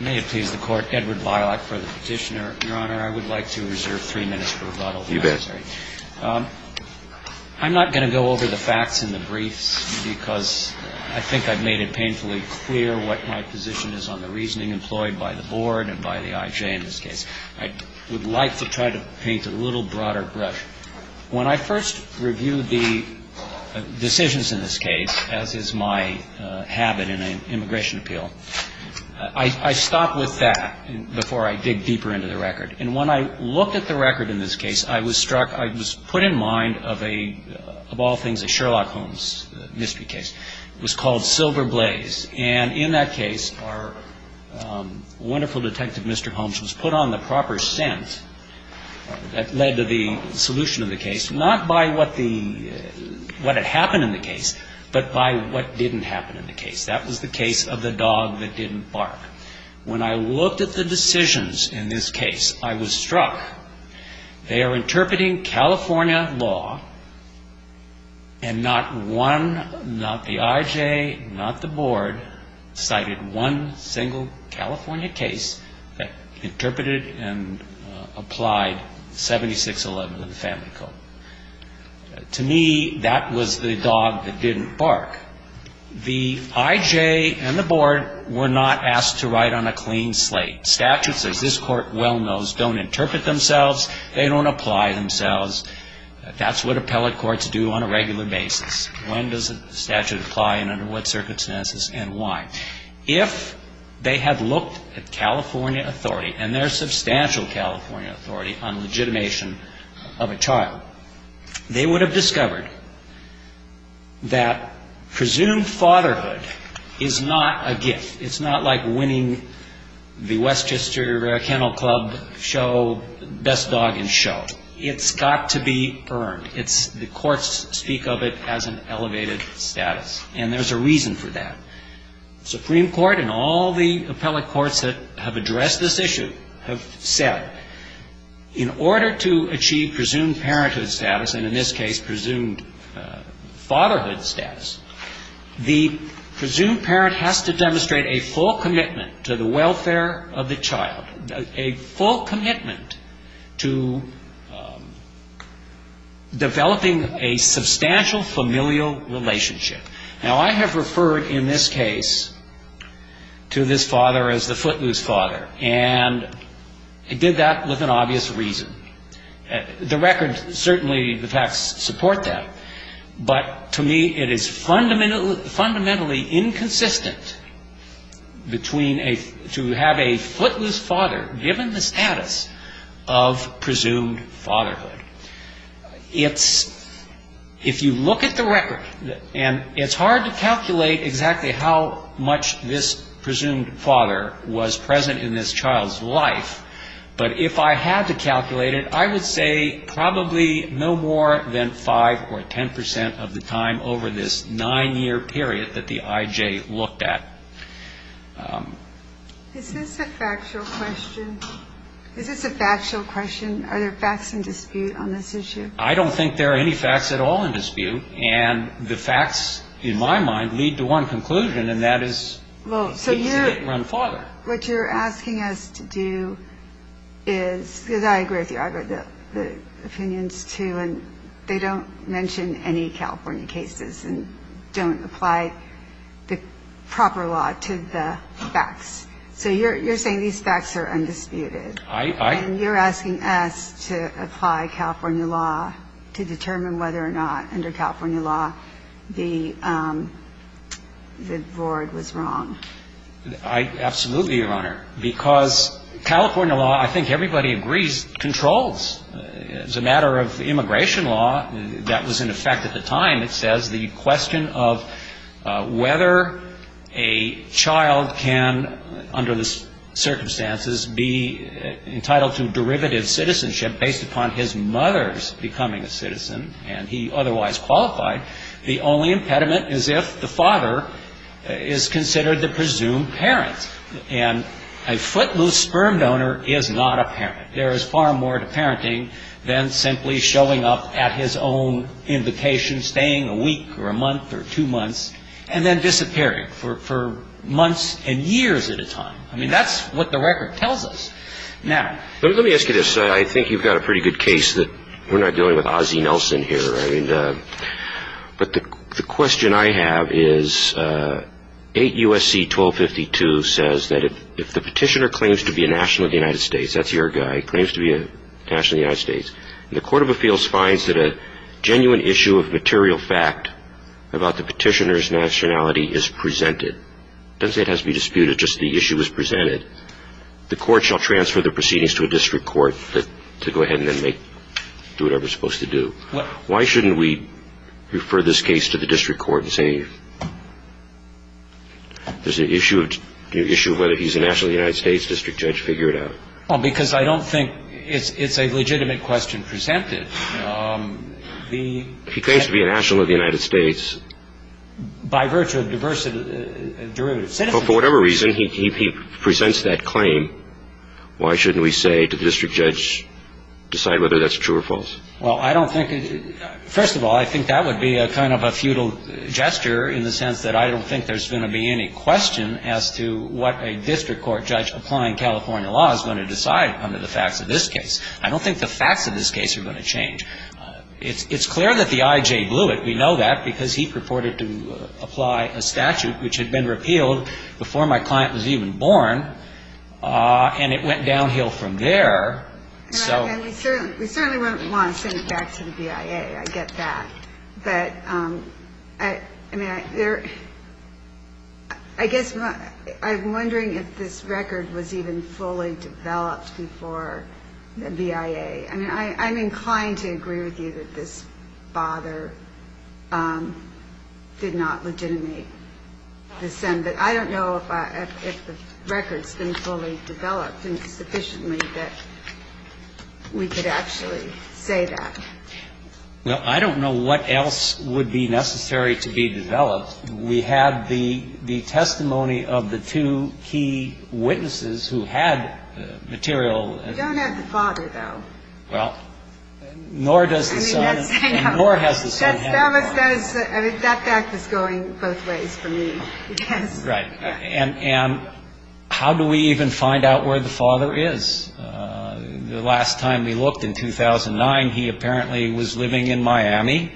I would like to reserve three minutes for rebuttal. I'm not going to go over the facts in the briefs because I think I've made it painfully clear what my position is on the reasoning employed by the board and by the IJ in this case. I would like to try to paint a little broader brush. When I first reviewed the decisions in this case, as is my habit in an immigration appeal, I stopped with that before I dig deeper into the record. And when I looked at the record in this case, I was struck, I was put in mind of a, of all things, a Sherlock Holmes mystery case. It was called Silver Blaze. And in that case, our wonderful detective, Mr. Holmes, was put on the proper scent that led to the solution of the case, not by what the, what had happened in the case, but by what didn't happen in the case. That was the case of the dog that didn't bark. When I looked at the decisions in this case, I was struck. They are interpreting California law, and not one, not the IJ, not the board, cited one single California case that interpreted and applied 7611 to the Family Code. To me, that was the dog that didn't bark. The IJ and the board were not asked to write on a clean slate. Statutes, as this Court well knows, don't interpret themselves. They don't apply themselves. That's what appellate courts do on a regular basis. When does a statute apply and under what circumstances and why? If they had looked at California authority, and there's substantial California authority on legitimation of a child, they would have discovered that presumed fatherhood is not a gift. It's not like winning the Westchester Kennel Club show best dog in show. It's got to be earned. It's, the courts speak of it as an elevated status. And there's a reason for that. The Supreme Court and all the appellate courts that have addressed this issue have said, in order to achieve presumed parenthood status, and in this case, presumed fatherhood status, the presumed parent has to demonstrate a full commitment to the welfare of the child, a full commitment to developing a substantial familial relationship. Now, I have referred in this case to this father as the footloose father, and I did that with an obvious reason. The record certainly, the facts support that. But to me, it is fundamentally inconsistent between a, to have a footloose father given the status of presumed fatherhood. It's, if you look at the record, and it's hard to calculate exactly how much this presumed father was present in this child's life, but if I had to calculate it, I would say probably no more than 5 or 10 percent of the time over this nine-year period that the IJ looked at. Is this a factual question? Is this a factual question? Are there facts in dispute on this issue? I don't think there are any facts at all in dispute. And the facts, in my mind, lead to one conclusion, and that is, he didn't run father. But what you're asking us to do is, because I agree with you, I agree with the opinions, too, and they don't mention any California cases and don't apply the proper law to the facts. So you're saying these facts are undisputed. I, I. And you're asking us to apply California law to determine whether or not, under California law, the, the board was wrong. I, absolutely, Your Honor, because California law, I think everybody agrees, controls. As a matter of immigration law, that was in effect at the time. It says the question of whether a child can, under the circumstances, be entitled to derivative citizenship based upon his mother's becoming a citizen, and he otherwise qualified, the only impediment is if the father is considered the presumed parent. And a footloose sperm donor is not a parent. There is far more to parenting than simply showing up at his own invitation, staying a week or a month or two months, and then disappearing for, for months and years at a time. I mean, that's what the record tells us. Now. Let me ask you this. I think you've got a pretty good case that we're not dealing with Ozzie Nelson here. I mean, but the question I have is 8 U.S.C. 1252 says that if the petitioner claims to be a national of the United States, that's your guy, claims to be a national of the United States, and the court of appeals finds that a genuine issue of material fact about the petitioner's nationality is presented, doesn't say it has to be disputed, just the issue is presented. The court shall transfer the proceedings to a district court to go ahead and then make, do whatever it's supposed to do. Why shouldn't we refer this case to the district court and say there's an issue of whether he's a national of the United States, district judge, figure it out? Well, because I don't think it's a legitimate question presented. He claims to be a national of the United States. By virtue of diversity of citizens. For whatever reason, he presents that claim. Why shouldn't we say to the district judge, decide whether that's true or false? Well, I don't think, first of all, I think that would be a kind of a futile gesture in the sense that I don't think there's going to be any question as to what a district court judge applying California law is going to decide under the facts of this case. I don't think the facts of this case are going to change. It's clear that the IJ blew it. We know that because he purported to apply a statute which had been repealed before my client was even born. And it went downhill from there. And we certainly wouldn't want to send it back to the BIA. I get that. But, I mean, I guess I'm wondering if this record was even fully developed before the BIA. I mean, I'm inclined to agree with you that this father did not legitimate the sentence. I don't know if the record's been fully developed sufficiently that we could actually say that. Well, I don't know what else would be necessary to be developed. We have the testimony of the two key witnesses who had material. We don't have the father, though. Well, nor does the son. Nor has the son. That fact is going both ways for me. Right. And how do we even find out where the father is? The last time we looked in 2009, he apparently was living in Miami.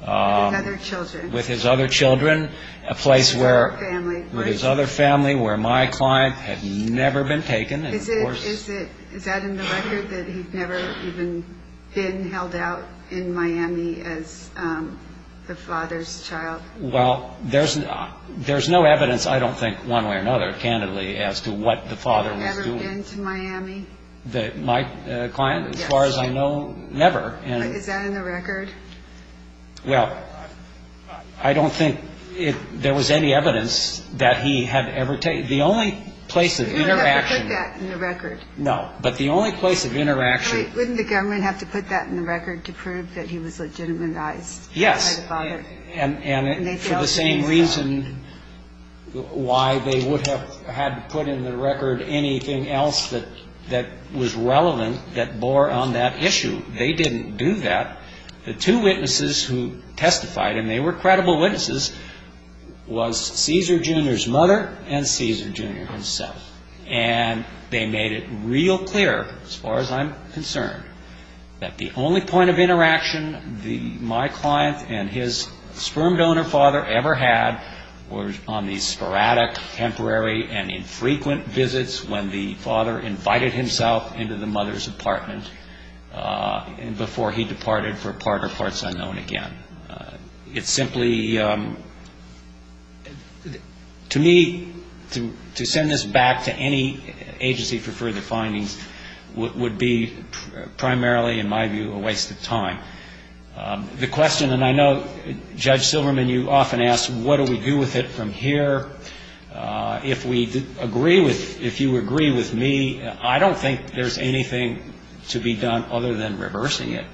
With his other children. With his other children. With his other family. With his other family where my client had never been taken. Is that in the record that he'd never even been held out in Miami as the father's child? Well, there's no evidence, I don't think, one way or another, candidly, as to what the father was doing. My client, as far as I know, never. Is that in the record? Well, I don't think there was any evidence that he had ever taken. The only place of interaction. You wouldn't have to put that in the record. No. But the only place of interaction. Wouldn't the government have to put that in the record to prove that he was legitimatized by the father? And for the same reason why they would have had to put in the record anything else that was relevant that bore on that issue. They didn't do that. The two witnesses who testified, and they were credible witnesses, was Caesar Jr.'s mother and Caesar Jr. himself. And they made it real clear, as far as I'm concerned, that the only point of interaction my client and his sperm donor father ever had was on these sporadic, temporary, and infrequent visits when the father invited himself into the mother's apartment before he departed for parts unknown again. It's simply, to me, to send this back to any agency for further findings would be primarily, in my view, a waste of time. The question, and I know, Judge Silverman, you often ask, what do we do with it from here? If we agree with, if you agree with me, I don't think there's anything to be done other than reversing it.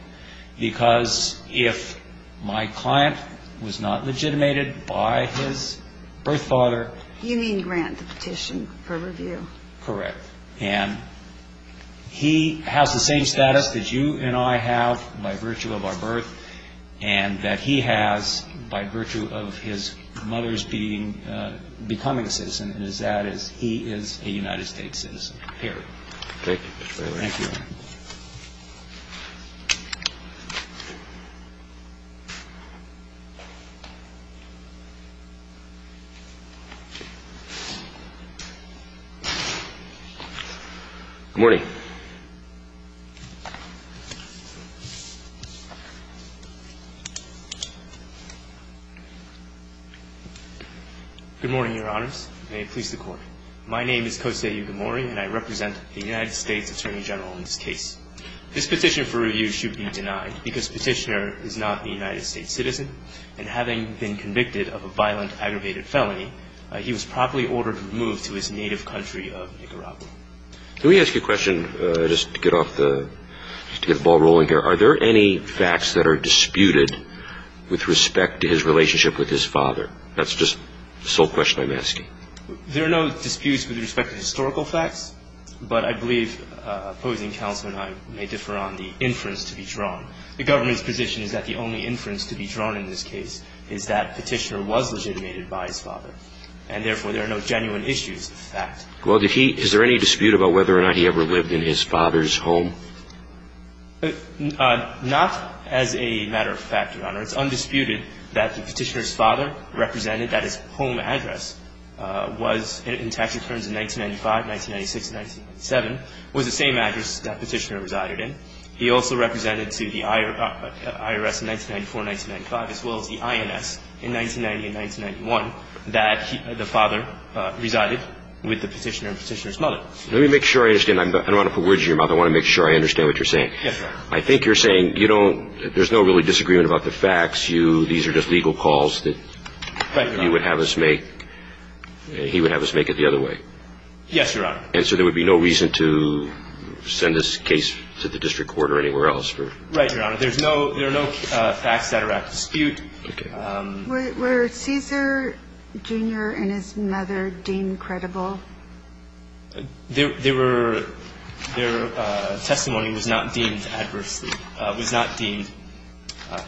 Because if my client was not legitimated by his birth father. You mean grant the petition for review. Correct. And he has the same status that you and I have by virtue of our birth, and that he has by virtue of his mother's being, becoming a citizen, and that is he is a United States citizen. Period. Okay. Thank you. Thank you. Good morning. Good morning, Your Honors. May it please the Court. My name is Kosei Yukimori, and I represent the United States Attorney General in this case. This petition for review should be denied because the petitioner is not a United States citizen, and having been convicted of a violent, aggravated felony, he was properly ordered to move to his native country of Nicaragua. Let me ask you a question just to get off the, to get the ball rolling here. Are there any facts that are disputed with respect to his relationship with his father? That's just the sole question I'm asking. There are no disputes with respect to historical facts, but I believe opposing counsel and I may differ on the inference to be drawn. The government's position is that the only inference to be drawn in this case is that petitioner was legitimated by his father, and therefore there are no genuine issues of fact. Well, did he, is there any dispute about whether or not he ever lived in his father's home? Not as a matter of fact, Your Honor. It's undisputed that the petitioner's father represented that his home address was in tax returns in 1995, 1996, and 1997, was the same address that petitioner resided in. He also represented to the IRS in 1994 and 1995, as well as the INS in 1990 and 1991, that the father resided with the petitioner and petitioner's mother. Let me make sure I understand. I don't want to put words in your mouth. I want to make sure I understand what you're saying. Yes, Your Honor. I think you're saying you don't, there's no really disagreement about the facts. You, these are just legal calls that you would have us make. He would have us make it the other way. Yes, Your Honor. And so there would be no reason to send this case to the district court or anywhere else. Right, Your Honor. There's no, there are no facts that are at dispute. Okay. Were Caesar Jr. and his mother deemed credible? Their testimony was not deemed adversely, was not deemed,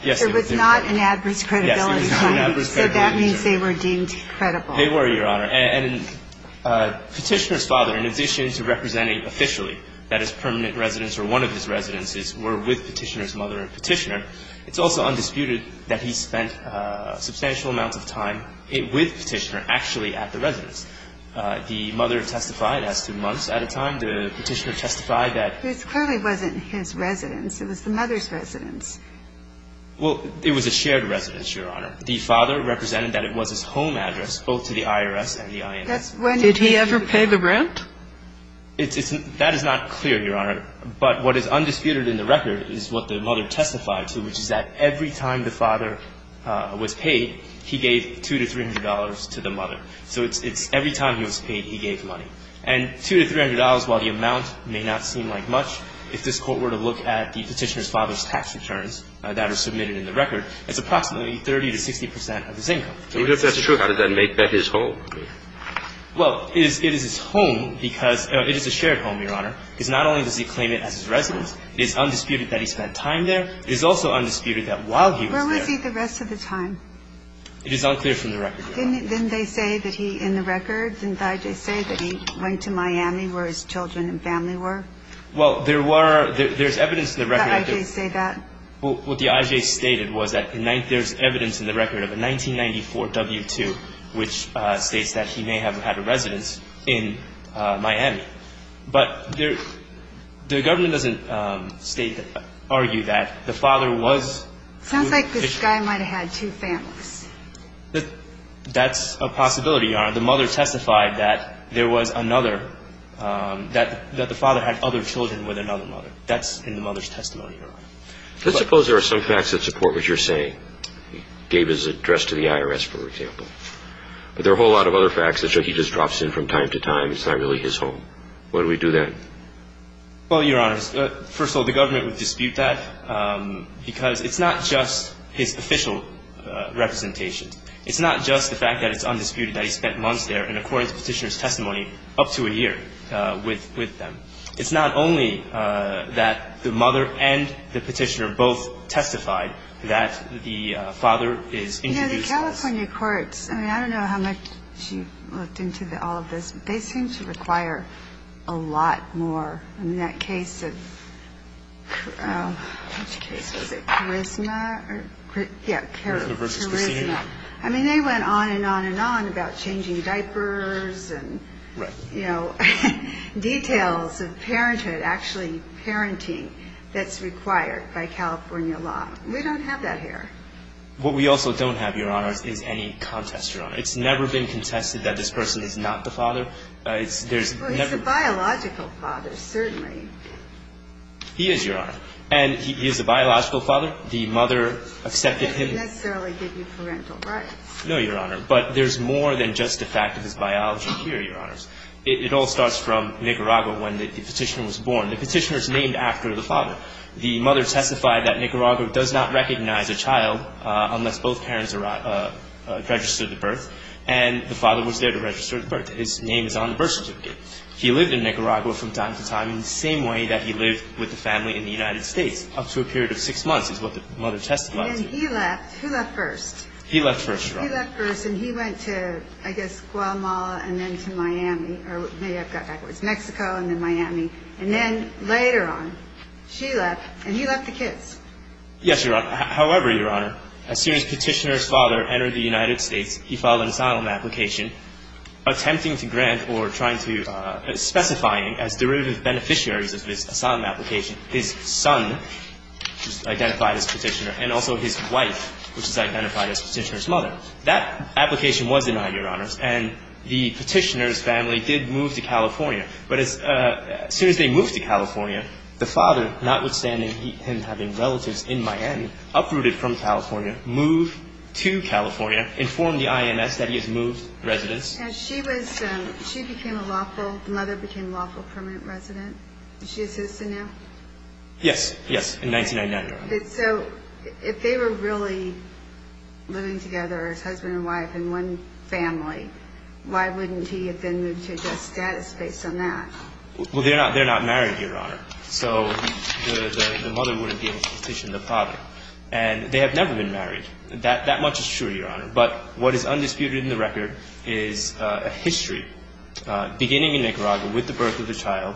yes, they were deemed credible. It was not an adverse credibility. Yes, it was not an adverse credibility. So that means they were deemed credible. They were, Your Honor. And petitioner's father, in addition to representing officially that his permanent residence or one of his residences were with petitioner's mother and petitioner, it's also undisputed that he spent substantial amounts of time with petitioner actually at the residence. The mother testified as to months at a time. The petitioner testified that. This clearly wasn't his residence. It was the mother's residence. Well, it was a shared residence, Your Honor. The father represented that it was his home address, both to the IRS and the INS. Did he ever pay the rent? That is not clear, Your Honor. But what is undisputed in the record is what the mother testified to, which is that every time the father was paid, he gave $200 to $300 to the mother. So it's every time he was paid, he gave money. And $200 to $300, while the amount may not seem like much, if this Court were to look at the petitioner's father's tax returns that are submitted in the record, it's approximately 30 to 60 percent of his income. If that's true, how does that make that his home? Well, it is his home because it is a shared home, Your Honor. Because not only does he claim it as his residence, it is undisputed that he spent time there. It is also undisputed that while he was there. Where was he the rest of the time? It is unclear from the record, Your Honor. Didn't they say that he, in the record, didn't the IJ say that he went to Miami where his children and family were? Well, there's evidence in the record. Did the IJ say that? Well, what the IJ stated was that there's evidence in the record of a 1994 W-2, which states that he may have had a residence in Miami. But the government doesn't argue that the father was... It sounds like this guy might have had two families. That's a possibility, Your Honor. The mother testified that there was another, that the father had other children with another mother. That's in the mother's testimony, Your Honor. Let's suppose there are some facts that support what you're saying. David's address to the IRS, for example. But there are a whole lot of other facts that show he just drops in from time to time. It's not really his home. Why do we do that? Well, Your Honor, first of all, the government would dispute that because it's not just his official representation. It's not just the fact that it's undisputed that he spent months there, and according to the petitioner's testimony, up to a year with them. It's not only that the mother and the petitioner both testified that the father is... Yeah, the California courts, I mean, I don't know how much she looked into all of this, but they seem to require a lot more. In that case of, what's the case, was it Charisma? Yeah, Charisma. I mean, they went on and on and on about changing diapers and, you know, details of parenthood, actually parenting that's required by California law. We don't have that here. What we also don't have, Your Honor, is any contest, Your Honor. Well, he's a biological father, certainly. He is, Your Honor. And he is a biological father. The mother accepted him... He didn't necessarily give you parental rights. No, Your Honor. But there's more than just the fact of his biology here, Your Honors. It all starts from Nicaragua when the petitioner was born. The petitioner is named after the father. The mother testified that Nicaragua does not recognize a child unless both parents registered the birth, and the father was there to register the birth. His name is on the birth certificate. He lived in Nicaragua from time to time in the same way that he lived with the family in the United States, up to a period of six months is what the mother testified to. And then he left. Who left first? He left first, Your Honor. He left first, and he went to, I guess, Guatemala and then to Miami. Or maybe I've got backwards. Mexico and then Miami. And then later on, she left, and he left the kids. Yes, Your Honor. However, Your Honor, as soon as petitioner's father entered the United States, he filed an asylum application attempting to grant or trying to specifying as derivative beneficiaries of his asylum application his son, identified as petitioner, and also his wife, which is identified as petitioner's mother. That application was denied, Your Honors, and the petitioner's family did move to California. But as soon as they moved to California, the father, notwithstanding him having relatives in Miami, uprooted from California, moved to California, informed the INS that he has moved residence. And she became a lawful, the mother became a lawful permanent resident. Is she a citizen now? Yes, yes, in 1999, Your Honor. So if they were really living together as husband and wife in one family, why wouldn't he have then moved to a death status based on that? Well, they're not married, Your Honor. So the mother wouldn't be able to petition the father. And they have never been married. That much is true, Your Honor. But what is undisputed in the record is a history beginning in Nicaragua with the birth of the child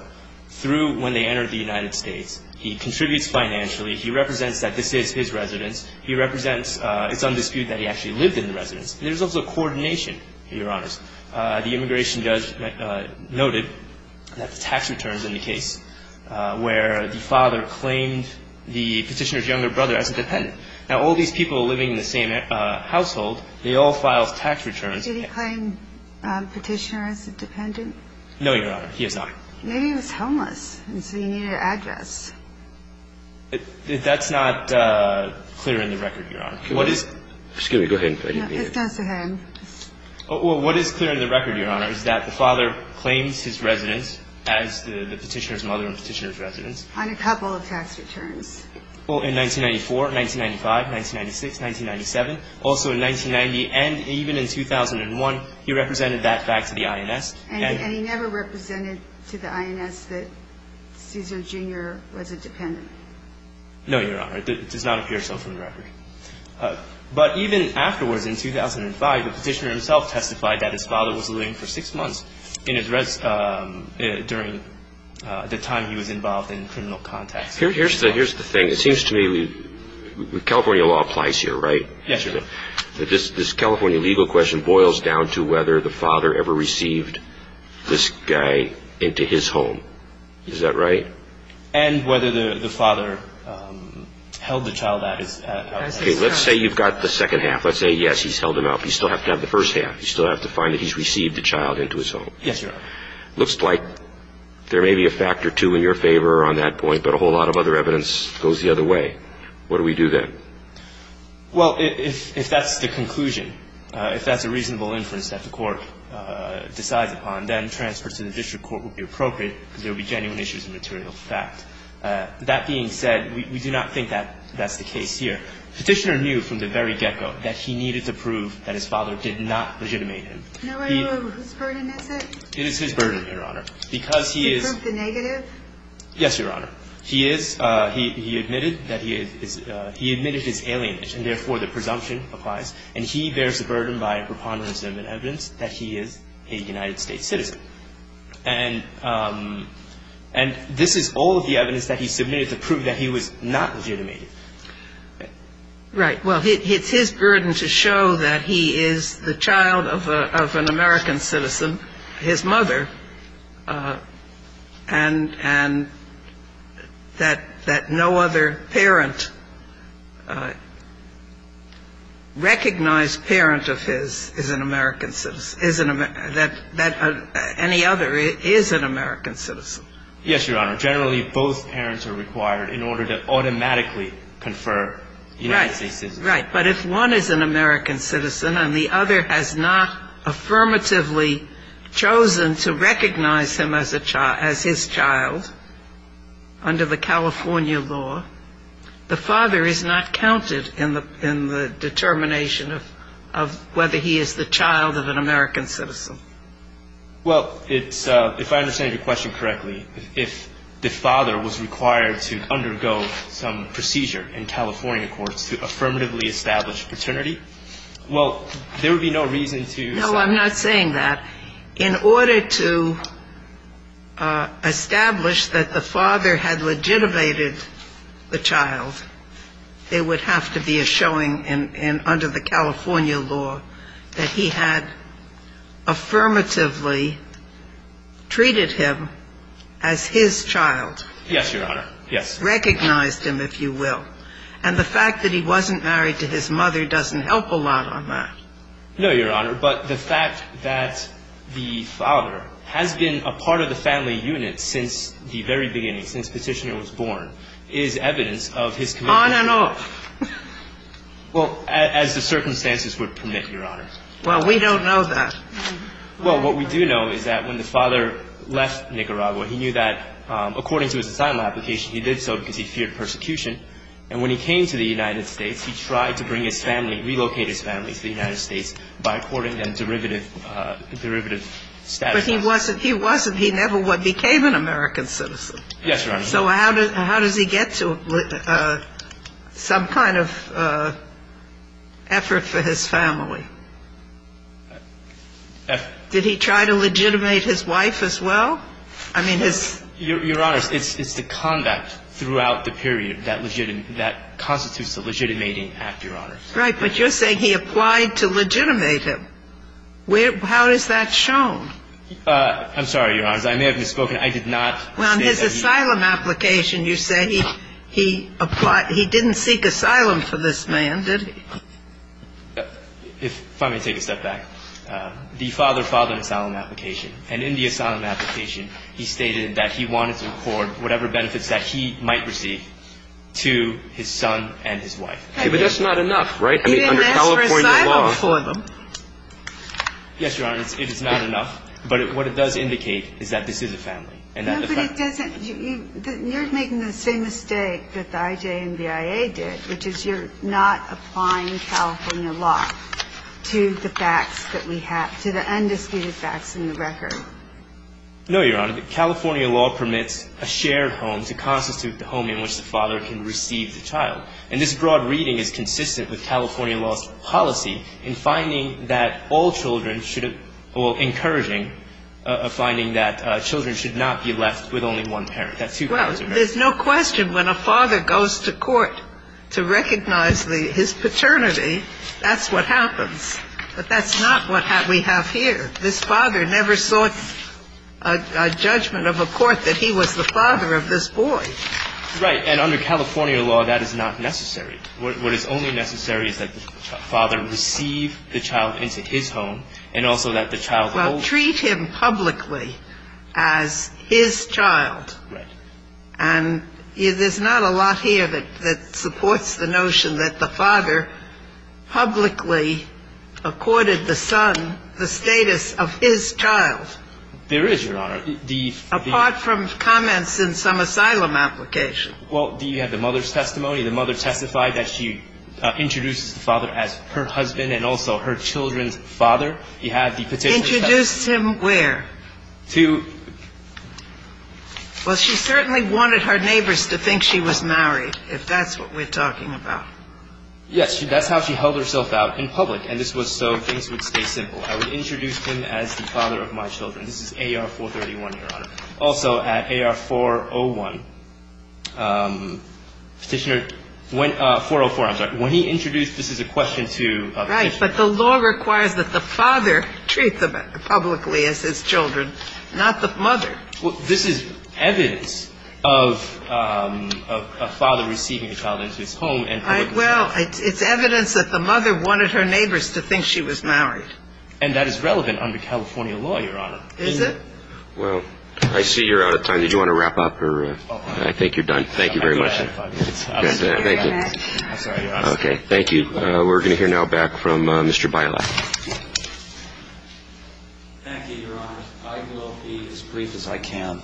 through when they entered the United States. He contributes financially. He represents that this is his residence. He represents it's undisputed that he actually lived in the residence. There's also coordination, Your Honors. The immigration judge noted that the tax returns in the case where the father claimed the petitioner's younger brother as a dependent. Now, all these people living in the same household, they all filed tax returns. Did he claim petitioner as a dependent? No, Your Honor. He is not. Maybe he was homeless, and so he needed an address. That's not clear in the record, Your Honor. Excuse me. Go ahead. It's not so hard. What is clear in the record, Your Honor, is that the father claims his residence as the petitioner's mother and petitioner's residence. On a couple of tax returns. Well, in 1994, 1995, 1996, 1997, also in 1990, and even in 2001, he represented that back to the INS. And he never represented to the INS that Cesar Jr. was a dependent? No, Your Honor. It does not appear so from the record. But even afterwards, in 2005, the petitioner himself testified that his father was living for six months during the time he was involved in criminal contacts. Here's the thing. It seems to me California law applies here, right? Yes, Your Honor. This California legal question boils down to whether the father ever received this guy into his home. Is that right? And whether the father held the child out. Okay. Let's say you've got the second half. Let's say, yes, he's held him out. But you still have to have the first half. You still have to find that he's received the child into his home. Yes, Your Honor. Looks like there may be a factor two in your favor on that point, but a whole lot of other evidence goes the other way. What do we do then? Well, if that's the conclusion, if that's a reasonable inference that the court decides upon, then transfers to the district court would be appropriate because there would be genuine issues of material fact. That being said, we do not think that that's the case here. Petitioner knew from the very get-go that he needed to prove that his father did not legitimate him. Whose burden is it? It is his burden, Your Honor. Because he is the negative? Yes, Your Honor. He is. He admitted that he is. He admitted his alienation. Therefore, the presumption applies. And he bears the burden by preponderance of evidence that he is a United States citizen. And this is all of the evidence that he submitted to prove that he was not legitimated. Right. Well, it's his burden to show that he is the child of an American citizen, his mother, and that no other parent, recognized parent of his is an American citizen, that any other is an American citizen. Yes, Your Honor. Generally, both parents are required in order to automatically confer United States citizenship. Right. But if one is an American citizen and the other has not affirmatively chosen to recognize him as his child under the California law, the father is not counted in the determination of whether he is the child of an American citizen. Well, it's ‑‑ if I understand your question correctly, if the father was required to undergo some procedure in California courts to affirmatively establish paternity, well, there would be no reason to ‑‑ No, I'm not saying that. In order to establish that the father had legitimated the child, there would have to be a showing under the California law that he had affirmatively treated him as his child. Yes, Your Honor. Yes. Recognized him, if you will. And the fact that he wasn't married to his mother doesn't help a lot on that. No, Your Honor. But the fact that the father has been a part of the family unit since the very beginning, since Petitioner was born, is evidence of his commitment. On and off. Well, as the circumstances would permit, Your Honor. Well, we don't know that. Well, what we do know is that when the father left Nicaragua, he knew that according to his asylum application, he did so because he feared persecution. And when he came to the United States, he tried to bring his family, relocate his family to the United States by according a derivative status. But he wasn't ‑‑ he never became an American citizen. Yes, Your Honor. So how does he get to some kind of effort for his family? Did he try to legitimate his wife as well? I mean, his ‑‑ Your Honor, it's the conduct throughout the period that constitutes the legitimating act, Your Honor. Right. But you're saying he applied to legitimate him. How is that shown? I'm sorry, Your Honor. I may have misspoken. I did not say that he ‑‑ Well, in his asylum application, you say he didn't seek asylum for this man, did he? If I may take a step back. The father filed an asylum application. And in the asylum application, he stated that he wanted to accord whatever benefits that he might receive to his son and his wife. But that's not enough, right? He didn't ask for asylum for them. Yes, Your Honor. It is not enough. But what it does indicate is that this is a family. No, but it doesn't ‑‑ you're making the same mistake that the IJ and BIA did, which is you're not applying California law to the facts that we have, to the undisputed facts in the record. No, Your Honor. California law permits a shared home to constitute the home in which the father can receive the child. And this broad reading is consistent with California law's policy in finding that all children should ‑‑ well, encouraging a finding that children should not be left with only one parent. Well, there's no question when a father goes to court to recognize his paternity, that's what happens. But that's not what we have here. This father never sought a judgment of a court that he was the father of this boy. Right. And under California law, that is not necessary. What is only necessary is that the father receive the child into his home and also that the child ‑‑ Well, treat him publicly as his child. Right. And there's not a lot here that supports the notion that the father publicly accorded the son the status of his child. There is, Your Honor. Apart from comments in some asylum application. Well, do you have the mother's testimony? The mother testified that she introduced the father as her husband and also her children's father. He had the potential ‑‑ Introduced him where? To ‑‑ Well, she certainly wanted her neighbors to think she was married, if that's what we're talking about. Yes. That's how she held herself out in public. And this was so things would stay simple. I would introduce him as the father of my children. This is AR-431, Your Honor. Also at AR-401, Petitioner ‑‑ 404, I'm sorry. When he introduced ‑‑ this is a question to Petitioner. Right. But the law requires that the father treat them publicly as his children, not the mother. Well, this is evidence of a father receiving a child into his home and ‑‑ Well, it's evidence that the mother wanted her neighbors to think she was married. And that is relevant under California law, Your Honor. Is it? Well, I see you're out of time. Did you want to wrap up? I think you're done. Thank you very much. I've got five minutes. Thank you. I'm sorry, Your Honor. Okay. Thank you. We're going to hear now back from Mr. Beilack. Thank you, Your Honor. I will be as brief as I can.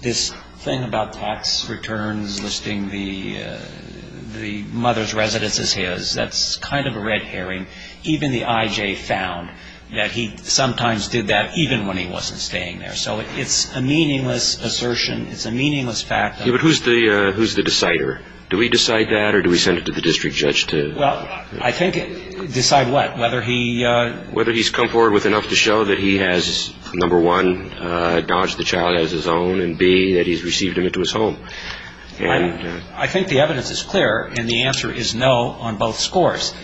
This thing about tax returns listing the mother's residence as his, that's kind of a red herring. Even the I.J. found that he sometimes did that even when he wasn't staying there. So it's a meaningless assertion. It's a meaningless fact. Yeah, but who's the decider? Do we decide that or do we send it to the district judge to ‑‑ Well, I think decide what? Whether he ‑‑ Number one, dodged the child as his own, and B, that he's received him into his home. I think the evidence is clear, and the answer is no on both scores.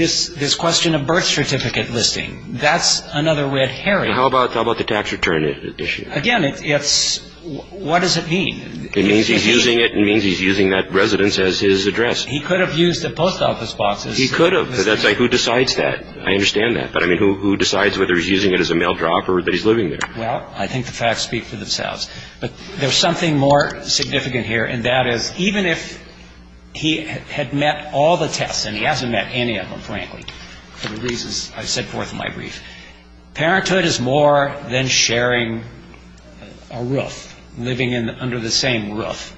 This question of birth certificate listing, that's another red herring. How about the tax return issue? Again, it's ‑‑ what does it mean? It means he's using it. It means he's using that residence as his address. He could have used the post office boxes. He could have. That's who decides that. I understand that. But, I mean, who decides whether he's using it as a mail drop or that he's living there? Well, I think the facts speak for themselves. But there's something more significant here, and that is even if he had met all the tests, and he hasn't met any of them, frankly, for the reasons I set forth in my brief, parenthood is more than sharing a roof, living under the same roof.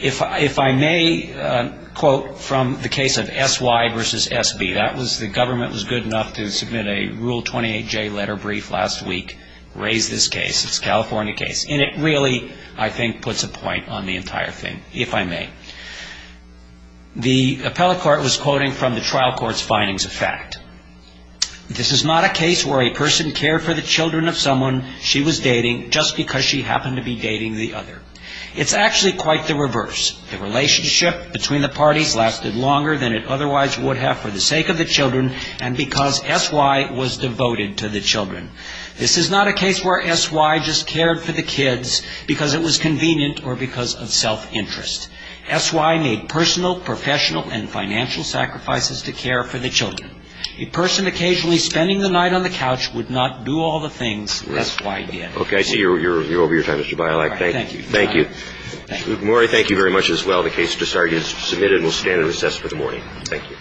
If I may quote from the case of S.Y. versus S.B. That was the government was good enough to submit a Rule 28J letter brief last week, raise this case. It's a California case. And it really, I think, puts a point on the entire thing, if I may. The appellate court was quoting from the trial court's findings of fact. This is not a case where a person cared for the children of someone she was dating just because she happened to be dating the other. It's actually quite the reverse. The relationship between the parties lasted longer than it otherwise would have for the sake of the children and because S.Y. was devoted to the children. This is not a case where S.Y. just cared for the kids because it was convenient or because of self-interest. S.Y. made personal, professional, and financial sacrifices to care for the children. A person occasionally spending the night on the couch would not do all the things S.Y. did. Okay. I see you're over your time, Mr. Bialak. Thank you. Thank you. Maury, thank you very much as well. The case is submitted and will stand in recess for the morning. Thank you.